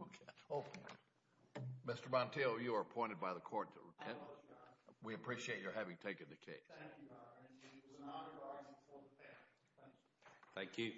Okay, Mr. Montiel, you are appointed by the court. We appreciate your having taken the case. Thank you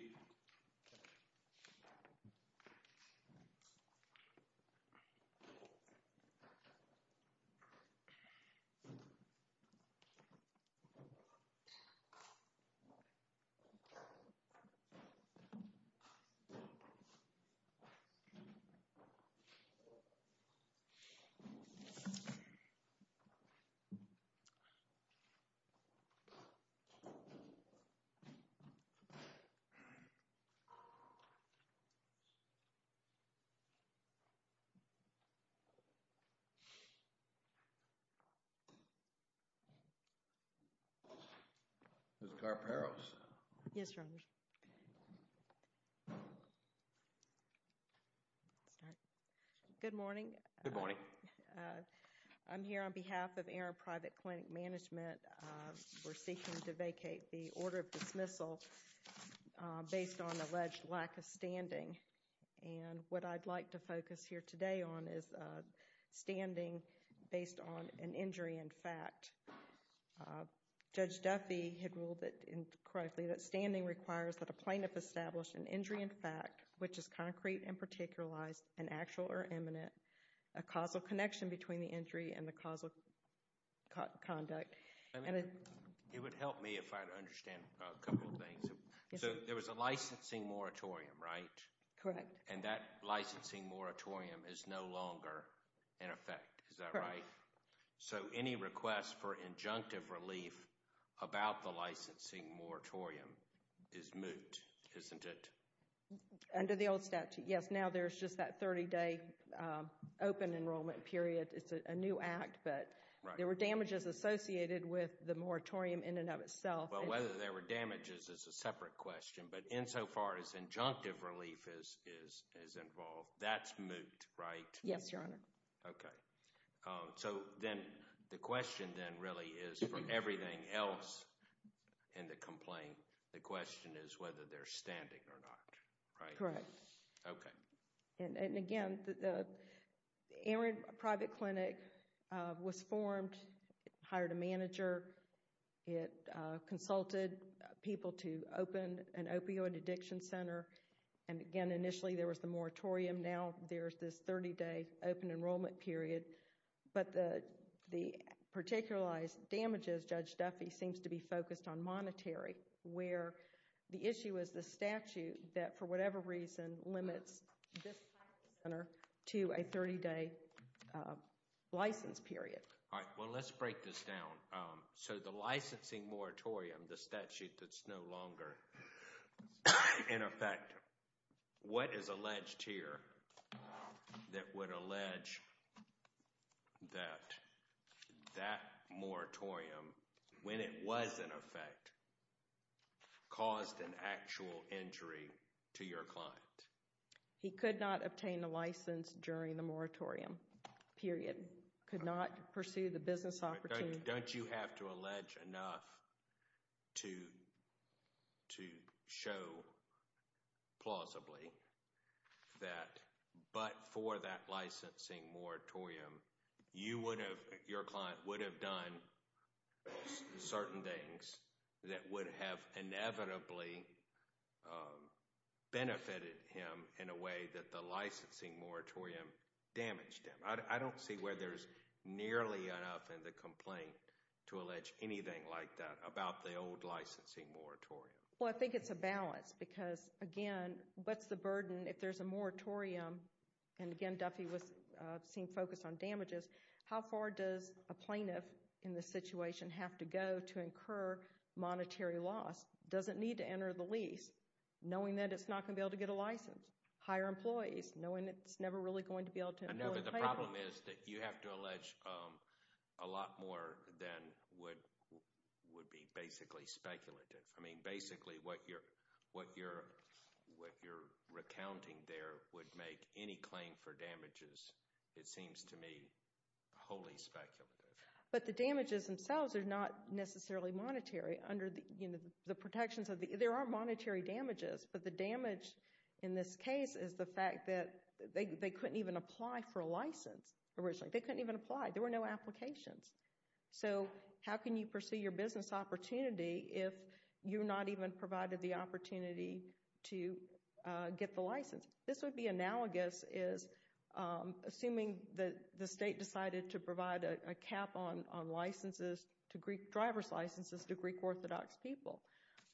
Mr. Perales. Yes Roger. Good morning. Good morning. I'm here on behalf of Aaron Private Clinic Management. We're seeking to vacate the order of dismissal based on alleged lack of standing and what I'd like to focus here today on is standing based on an injury in fact. Judge Duffy had ruled that incorrectly that standing requires that a plaintiff established an injury in fact which is concrete and unparticularized and actual or imminent a causal connection between the injury and the causal conduct. It would help me if I understand a couple of things. So there was a licensing moratorium right? Correct. And that licensing moratorium is no longer in effect is that right? So any request for injunctive relief about the licensing moratorium is moot isn't it? Under the old statute yes now there's just that 30-day open enrollment period it's a new act but there were damages associated with the moratorium in and of itself. Whether there were damages is a separate question but insofar as injunctive relief is involved that's moot right? Yes your honor. Okay so then the question then really is for everything else in the complaint the question is whether they're standing or not right? Correct. Okay. And again the Erin private clinic was formed hired a manager it consulted people to open an opioid addiction center and again initially there was the moratorium now there's this 30-day open enrollment period but the the particularized damages Judge Duffy seems to be focused on monetary where the issue is the statute that for whatever reason limits this center to a 30-day license period. All right well let's break this down so the licensing moratorium the statute that's no longer in effect what is alleged here that would allege that that moratorium when it was in effect caused an actual injury to your client? He could not obtain the license during the moratorium period could not pursue the business opportunity. Don't you have to plausibly that but for that licensing moratorium you would have your client would have done certain things that would have inevitably benefited him in a way that the licensing moratorium damaged him? I don't see where there's nearly enough in the complaint to allege anything like that about the old what's the burden if there's a moratorium and again Duffy was seen focused on damages how far does a plaintiff in the situation have to go to incur monetary loss doesn't need to enter the lease knowing that it's not gonna be able to get a license hire employees knowing it's never really going to be able to know that the problem is that you have to allege a lot more than would would be basically speculative I mean basically what you're what you're recounting there would make any claim for damages it seems to me wholly speculative but the damages themselves are not necessarily monetary under the you know the protections of the there are monetary damages but the damage in this case is the fact that they couldn't even apply for a license originally they couldn't even apply there were no applications so how can you pursue your business opportunity if you're not even provided the opportunity to get the license this would be analogous is assuming that the state decided to provide a cap on on licenses to Greek drivers licenses to Greek Orthodox people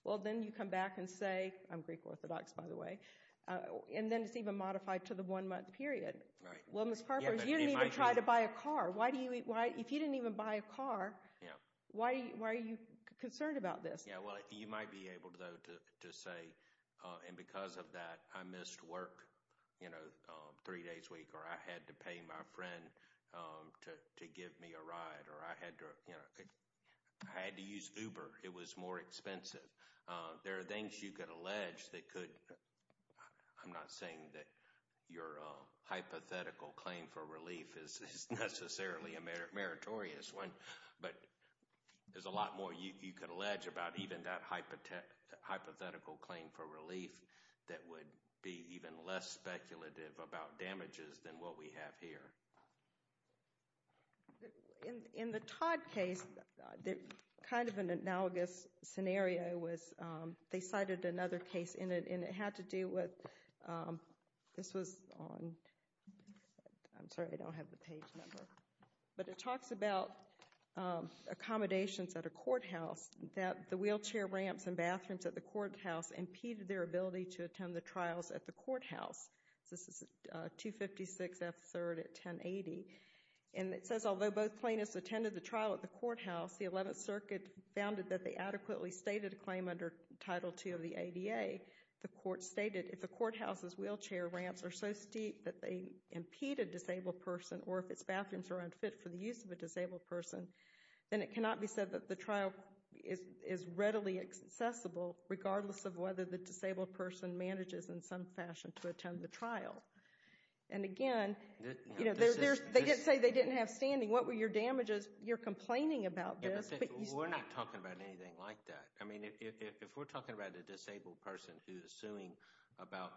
well then you come back and say I'm Greek Orthodox by the way and then it's even modified to the one month period right well miss Harper's you didn't even try to buy a car why do you eat why if you didn't even buy a car yeah why are you concerned about this yeah well you might be able to say and because of that I missed work you know three days week or I had to pay my friend to give me a ride or I had to you know I had to use uber it was more expensive there are things you could allege that could I'm not saying that your hypothetical claim for relief is necessarily a merit meritorious one but there's a lot more you could allege about even that hypothetical claim for relief that would be even less speculative about damages than what we have here in the Todd case they're kind of an analogous scenario was they cited another case in it and it had to do with this was on I'm sorry I don't have the but it talks about accommodations at a courthouse that the wheelchair ramps and bathrooms at the courthouse impeded their ability to attend the trials at the courthouse this is 256 f-3rd at 1080 and it says although both plaintiffs attended the trial at the courthouse the 11th Circuit founded that they adequately stated a claim under Title 2 of the ADA the court stated if the courthouse's wheelchair ramps are so steep that they impeded disabled person or if its bathrooms are unfit for the use of a disabled person then it cannot be said that the trial is readily accessible regardless of whether the disabled person manages in some fashion to attend the trial and again you know there's they didn't say they didn't have standing what were your damages you're complaining about this we're not talking about anything like that I mean if we're talking about a disabled person who is suing about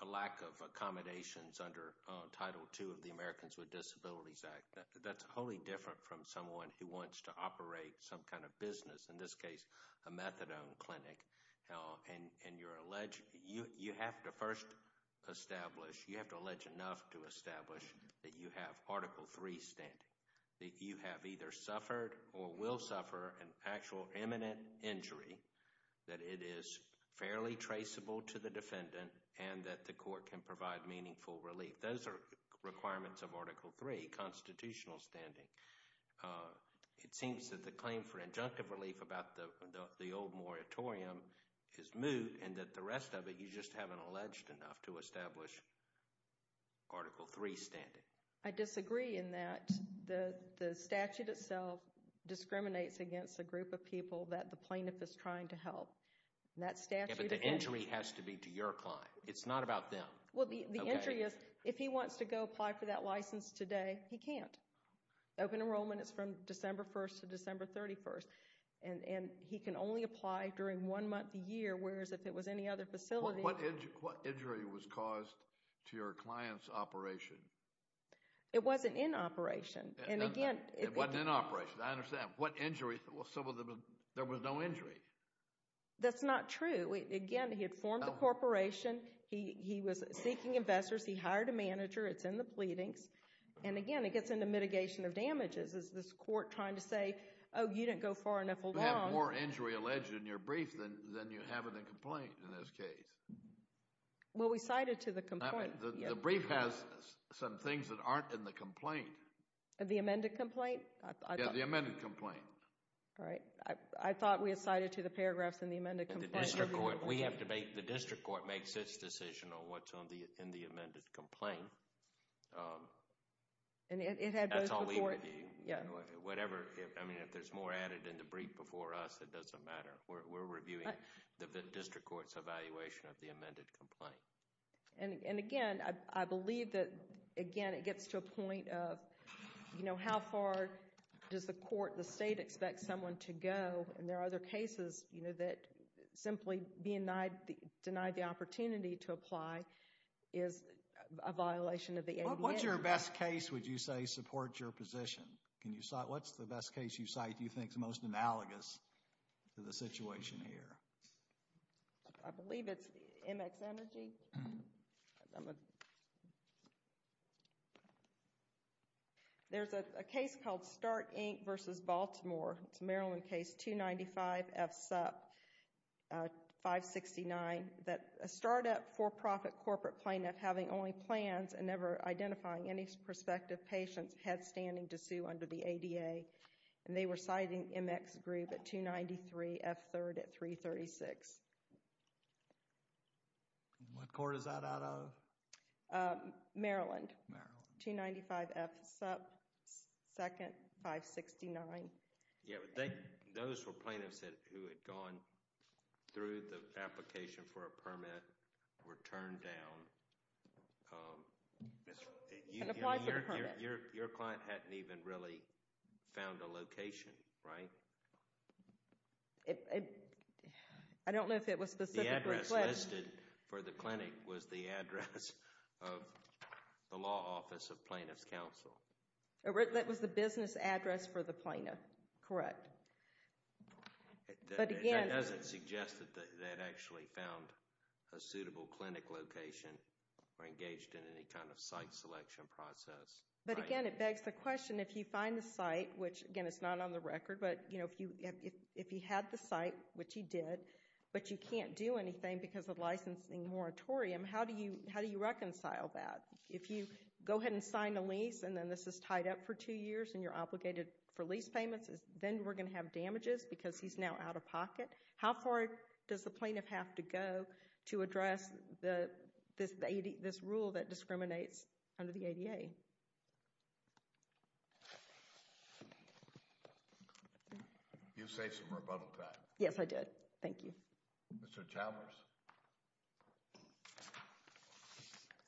a lack of accommodations under Title 2 of the Americans with Disabilities Act that's wholly different from someone who wants to operate some kind of business in this case a methadone clinic hell and and you're alleged you you have to first establish you have to allege enough to establish that you have article 3 standing that you have either suffered or will suffer an actual imminent injury that it is fairly traceable to the defendant and that the court can provide meaningful relief those are requirements of article 3 constitutional standing it seems that the claim for injunctive relief about the the old moratorium is moot and that the rest of it you just haven't alleged enough to establish article 3 standing I disagree in that the the statute itself discriminates against a group of people that the plaintiff is trying to help the injury has to be to your client it's not about them well the entry is if he wants to go apply for that license today he can't open enrollment it's from December 1st to December 31st and and he can only apply during one month a year whereas if it was any other facility what injury was caused to your clients operation it wasn't in operation and again it wasn't in operation I that's not true again he had formed a corporation he was seeking investors he hired a manager it's in the pleadings and again it gets into mitigation of damages is this court trying to say oh you didn't go far enough along or injury alleged in your brief then then you haven't a complaint in this case well we cited to the complaint the brief has some things that aren't in the complaint the amended complaint the amended complaint all right I thought we assigned it to the paragraphs in the amended we have to make the district court makes its decision on what's on the in the amended complaint and it had yeah whatever I mean if there's more added in the brief before us it doesn't matter we're reviewing the district courts evaluation of the amended complaint and you know how far does the court the state expect someone to go and there are other cases you know that simply being denied denied the opportunity to apply is a violation of the what's your best case would you say support your position can you saw it what's the best case you cite you think the most analogous to the situation here I believe it's MX energy there's a case called start Inc versus Baltimore it's Maryland case 295 F sup 569 that a startup for-profit corporate plaintiff having only plans and never identifying any prospective patients had standing to sue under the ADA and they were citing MX agree but 293 F 3rd at 336 what court is that out of Maryland 295 F sub 2nd 569 yeah those were plaintiffs that who had gone through the application for a permit were turned down your client hadn't even really found a location right it I don't know if it was the address listed for the clinic was the address of the law office of plaintiffs counsel that was the business address for the plaintiff correct but again as it suggested that actually found a suitable clinic location or but again it begs the question if you find the site which again it's not on the record but you know if you if you had the site which he did but you can't do anything because of licensing moratorium how do you how do you reconcile that if you go ahead and sign a lease and then this is tied up for two years and you're obligated for lease payments is then we're gonna have damages because he's now out of pocket how far does the plaintiff have to go to under the ADA you say some rebuttal time yes I did thank you Mr. Chalmers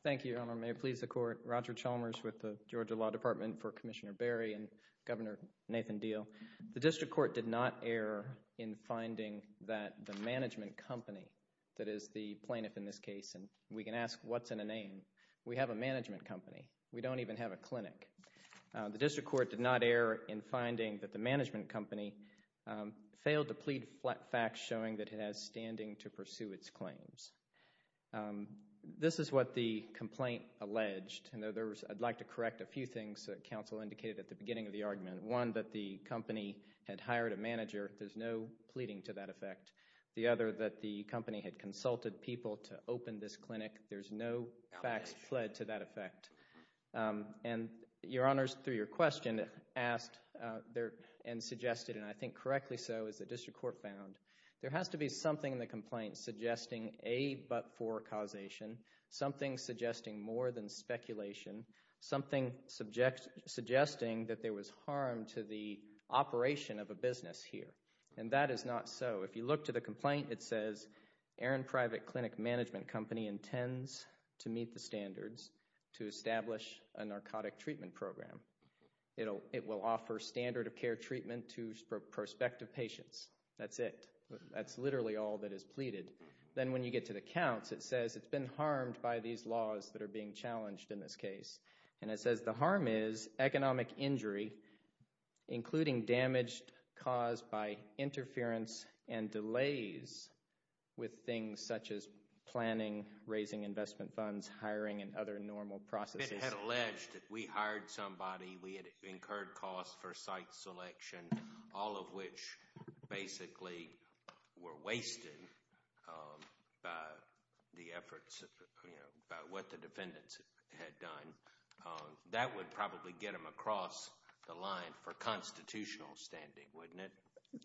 thank you may please the court Roger Chalmers with the Georgia Law Department for Commissioner Barry and Governor Nathan deal the district court did not err in finding that the management company that is the plaintiff in this we can ask what's in a name we have a management company we don't even have a clinic the district court did not err in finding that the management company failed to plead flat facts showing that it has standing to pursue its claims this is what the complaint alleged and there was I'd like to correct a few things that counsel indicated at the beginning of the argument one that the company had hired a manager there's no pleading to that effect the other that the company had consulted people to open this clinic there's no facts fled to that effect and your honors through your question asked there and suggested and I think correctly so as the district court found there has to be something in the complaint suggesting a but for causation something suggesting more than speculation something subject suggesting that there was harm to the operation of a business here and that is not so if you look to the complaint it says Aaron private clinic management company intends to meet the standards to establish a narcotic treatment program it'll it will offer standard of care treatment to prospective patients that's it that's literally all that is pleaded then when you get to the counts it says it's been harmed by these laws that are being challenged in this case and it says the harm is economic injury including damaged caused by interference and delays with things such as planning raising investment funds hiring and other normal processes alleged we hired somebody we had incurred costs for site selection all of which basically were wasted the efforts what the defendants had done that would probably get them across the line for constitutional standing wouldn't it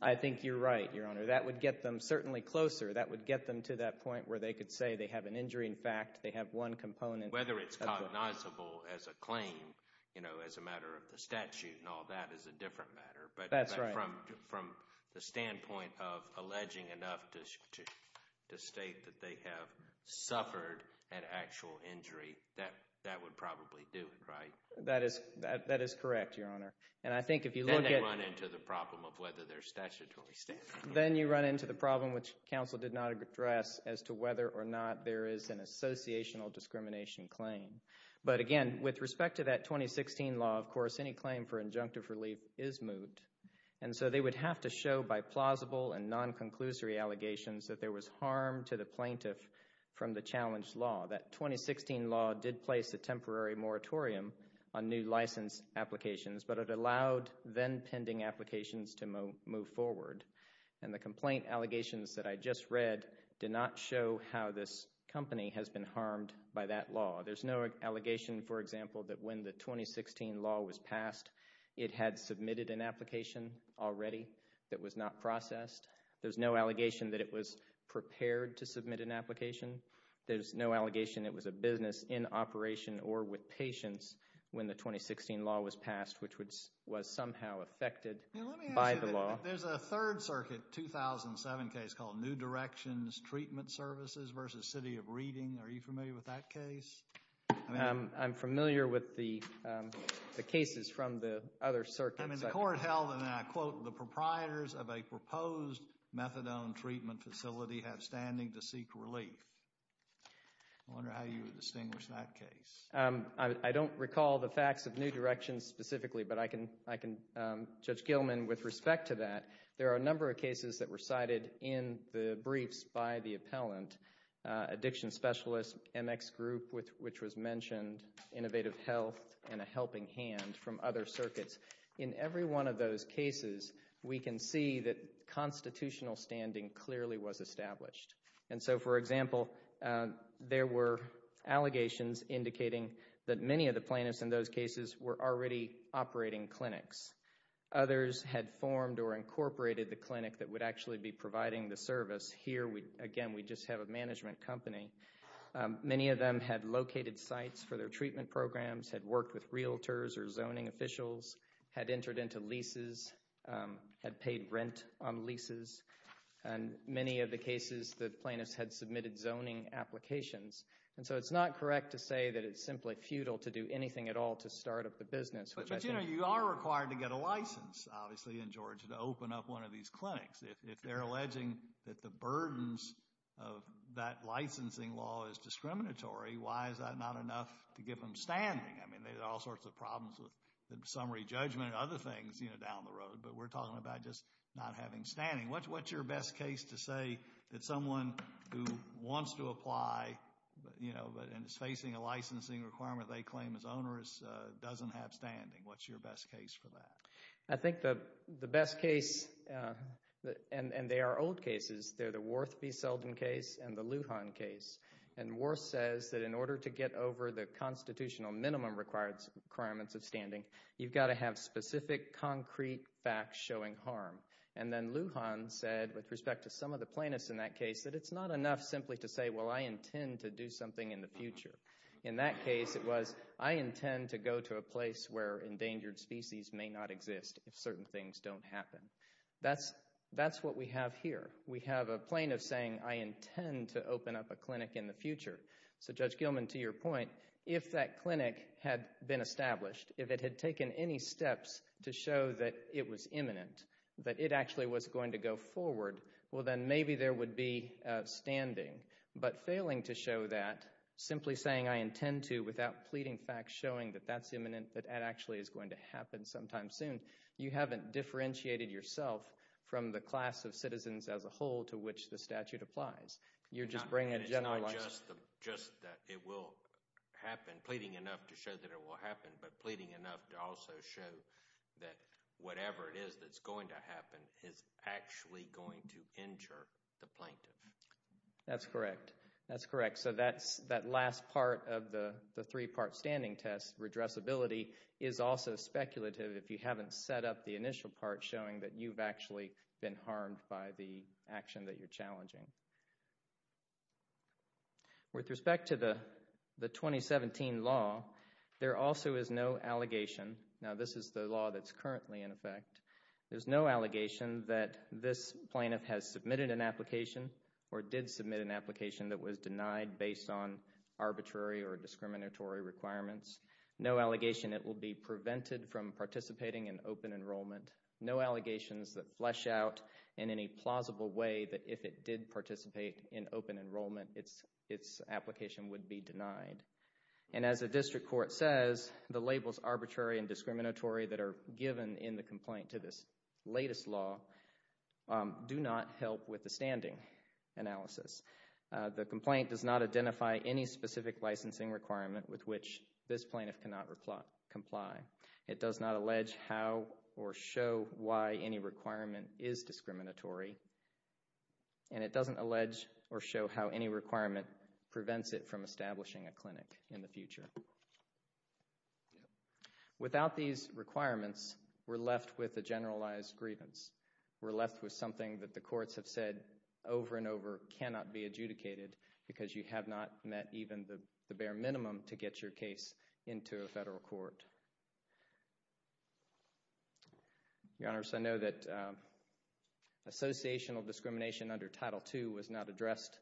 I think you're right your honor that would get them certainly closer that would get them to that point where they could say they have an injury in fact they have one component whether it's cognizable as a claim you know as a matter of the statute and all that is a different matter but that's right from from the standpoint of alleging enough to state that they have suffered an actual injury that that that is that that is correct your honor and I think if you look into the problem of whether they're statutory then you run into the problem which council did not address as to whether or not there is an associational discrimination claim but again with respect to that 2016 law of course any claim for injunctive relief is moot and so they would have to show by plausible and non-conclusory allegations that there was harm to the plaintiff from the challenge law that 2016 law did place a temporary moratorium on new license applications but it allowed then pending applications to move forward and the complaint allegations that I just read did not show how this company has been harmed by that law there's no allegation for example that when the 2016 law was passed it had submitted an application already that was not processed there's no allegation that it was prepared to submit an application there's no allegation it was a business in operation or with patients when the 2016 law was passed which was was somehow affected by the law there's a Third Circuit 2007 case called New Directions Treatment Services versus City of Reading are you familiar with that case I'm familiar with the cases from the other circuit I mean the court held and I quote the proprietors of a proposed methadone treatment facility have standing to seek relief I don't recall the facts of New Directions specifically but I can I can judge Gilman with respect to that there are a number of cases that were cited in the briefs by the appellant addiction specialist MX group with which was mentioned innovative health and a helping hand from other circuits in every one of those cases we can see that constitutional standing clearly was established and so for example there were allegations indicating that many of the plaintiffs in those cases were already operating clinics others had formed or incorporated the clinic that would actually be providing the service here we again we just have a management company many of them had located sites for their treatment programs had worked with realtors or zoning officials had entered into leases had paid rent on leases and many of the cases that plaintiffs had submitted zoning applications and so it's not correct to say that it's simply futile to do anything at all to start up the business but you know you are required to get a license obviously in Georgia to open up one of these clinics if they're alleging that the burdens of that licensing law is discriminatory why is that not enough to give them standing I mean there's all things you know down the road but we're talking about just not having standing what's what's your best case to say that someone who wants to apply you know but and it's facing a licensing requirement they claim is onerous doesn't have standing what's your best case for that I think the the best case and and they are old cases they're the Worth v. Selden case and the Lujan case and Worth says that in order to get over the constitutional minimum required requirements of standing you've got to have specific concrete facts showing harm and then Lujan said with respect to some of the plaintiffs in that case that it's not enough simply to say well I intend to do something in the future in that case it was I intend to go to a place where endangered species may not exist if certain things don't happen that's that's what we have here we have a plaintiff saying I intend to open up a clinic in the future so Judge Gilman to your point if that clinic had been established if it had taken any steps to show that it was imminent that it actually was going to go forward well then maybe there would be standing but failing to show that simply saying I intend to without pleading facts showing that that's imminent that actually is going to happen sometime soon you haven't differentiated yourself from the class of citizens as a whole to which the statute applies you're just bringing just that it will happen pleading enough to show that it will happen but pleading enough to also show that whatever it is that's going to happen is actually going to injure the plaintiff that's correct that's correct so that's that last part of the the three-part standing test redressability is also speculative if you haven't set up the initial part showing that you've action that you're challenging with respect to the the 2017 law there also is no allegation now this is the law that's currently in effect there's no allegation that this plaintiff has submitted an application or did submit an application that was denied based on arbitrary or discriminatory requirements no allegation it will be prevented from participating in open enrollment no allegations that flesh out in any plausible way that if it did participate in open enrollment it's its application would be denied and as a district court says the labels arbitrary and discriminatory that are given in the complaint to this latest law do not help with the standing analysis the complaint does not identify any specific licensing requirement with which this plaintiff cannot reply comply it does not allege how or show why any requirement is discriminatory and it doesn't allege or show how any requirement prevents it from establishing a clinic in the future without these requirements we're left with a generalized grievance we're left with something that the courts have said over and over cannot be adjudicated because you have not met even the bare case into a federal court your honor so I know that associational discrimination under title 2 was not addressed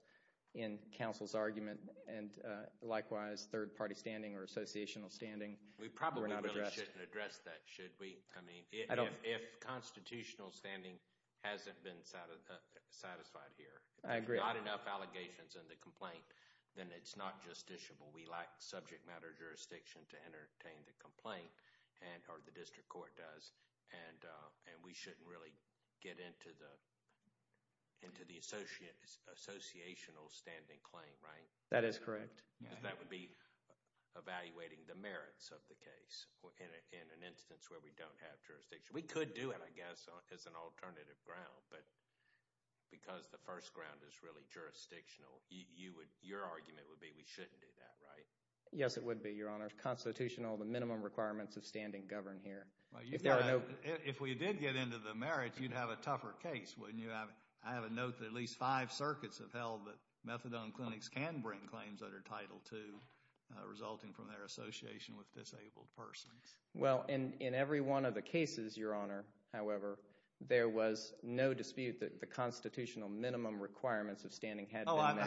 in counsel's argument and likewise third party standing or associational standing we probably should address that should we I mean I don't if constitutional standing hasn't been satisfied here I agree on enough allegations in the complaint then it's not justiciable we subject matter jurisdiction to entertain the complaint and or the district court does and and we shouldn't really get into the into the associate associational standing claim right that is correct that would be evaluating the merits of the case in an instance where we don't have jurisdiction we could do it I guess as an alternative ground but because the first ground is really jurisdictional you would your argument would be we shouldn't do that right yes it would be your honor constitutional the minimum requirements of standing govern here if there are no if we did get into the merits you'd have a tougher case when you have I have a note that at least five circuits have held that methadone clinics can bring claims that are title to resulting from their association with disabled persons well and in every one of the cases your honor however there was no dispute that the constitutional minimum requirements of standing had I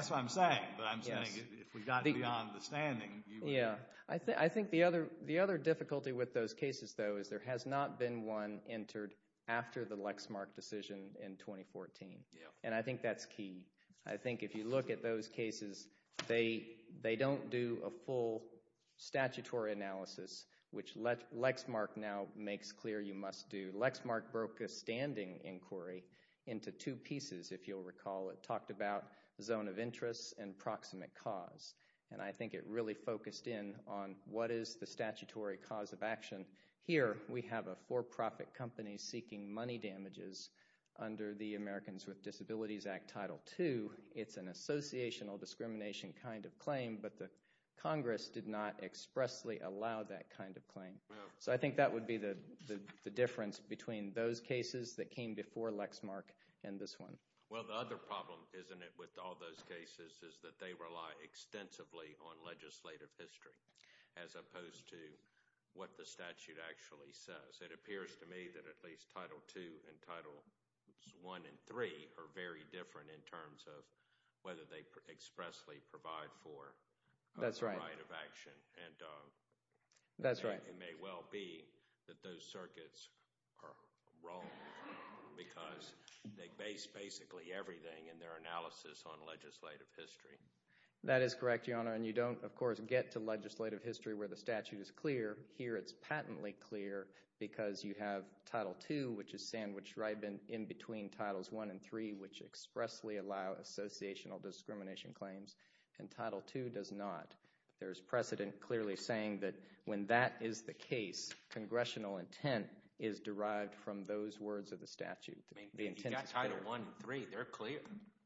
think the other the other difficulty with those cases though is there has not been one entered after the Lexmark decision in 2014 and I think that's key I think if you look at those cases they they don't do a full statutory analysis which let Lexmark now makes clear you must do Lexmark broke a standing inquiry into two pieces if you'll recall it talked about zone of interest and proximate cause and I think it really focused in on what is the statutory cause of action here we have a for-profit company seeking money damages under the Americans with Disabilities Act title to it's an associational discrimination kind of claim but the Congress did not expressly allow that kind of claim so I think that would be the difference between those cases that came before Lexmark and this one well the other problem isn't it with all those cases is that they rely extensively on legislative history as opposed to what the statute actually says it appears to me that at least title 2 and title 1 and 3 are very different in terms of whether they expressly provide for that's right of action and that's right it may well be that those circuits are wrong because they base basically everything in their analysis on legislative history that is correct your honor and you don't of course get to legislative history where the statute is clear here it's patently clear because you have title 2 which is sandwiched right been in between titles 1 and 3 which expressly allow associational discrimination claims and title 2 does not there's precedent clearly saying that when that is the case congressional intent is derived from those words of the statute title 1 3 they're clear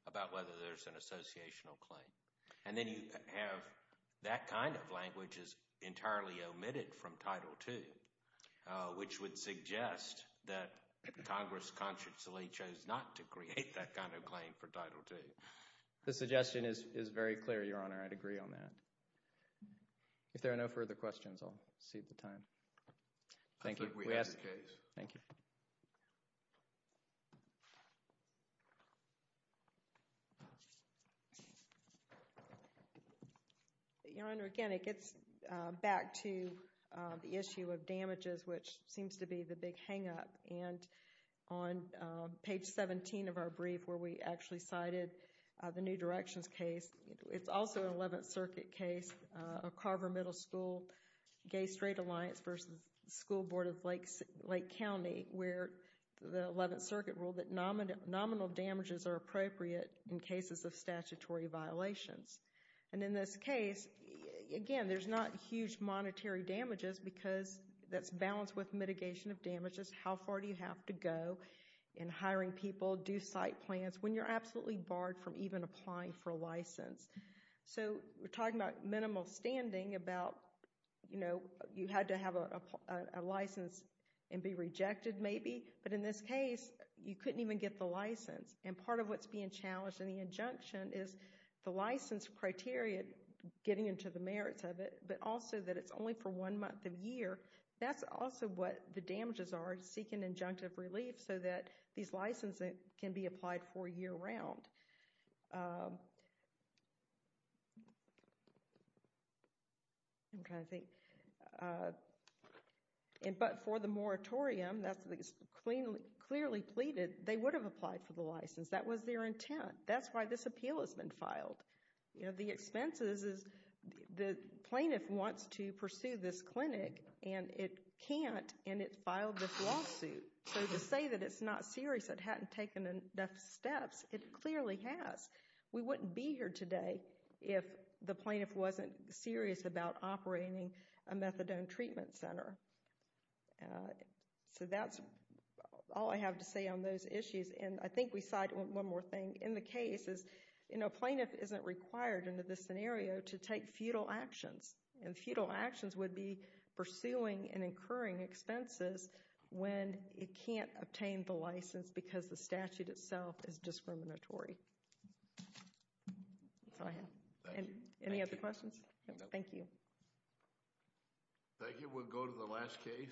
about whether there's an associational claim and then you have that kind of language is entirely omitted from title 2 which would suggest that Congress consciously chose not to create that kind of claim for title 2 the suggestion is is very clear your honor I'd agree on that if there are no further questions I'll see at the time thank you we ask thank you your honor again it gets back to the issue of damages which seems to be the big hang-up and on page 17 of our brief where we actually cited the new circuit case a Carver Middle School gay-straight Alliance versus School Board of Lakes Lake County where the 11th Circuit ruled that nominal damages are appropriate in cases of statutory violations and in this case again there's not huge monetary damages because that's balanced with mitigation of damages how far do you have to go in hiring people do site plans when you're talking about minimal standing about you know you had to have a license and be rejected maybe but in this case you couldn't even get the license and part of what's being challenged in the injunction is the license criteria getting into the merits of it but also that it's only for one month of year that's also what the damages are seeking injunctive relief so that these licenses can be applied for year-round okay I think and but for the moratorium that's the cleanly clearly pleaded they would have applied for the license that was their intent that's why this appeal has been filed you know the expenses is the plaintiff wants to pursue this clinic and it can't and it filed this lawsuit say that it's not serious that hadn't taken enough steps it clearly has we wouldn't be here today if the plaintiff wasn't serious about operating a methadone treatment center so that's all I have to say on those issues and I think we cite one more thing in the case is you know plaintiff isn't required into this scenario to take futile actions and futile actions would be pursuing and incurring expenses when it can't obtain the license because the statute itself is discriminatory any other questions thank you thank you we'll go to the last case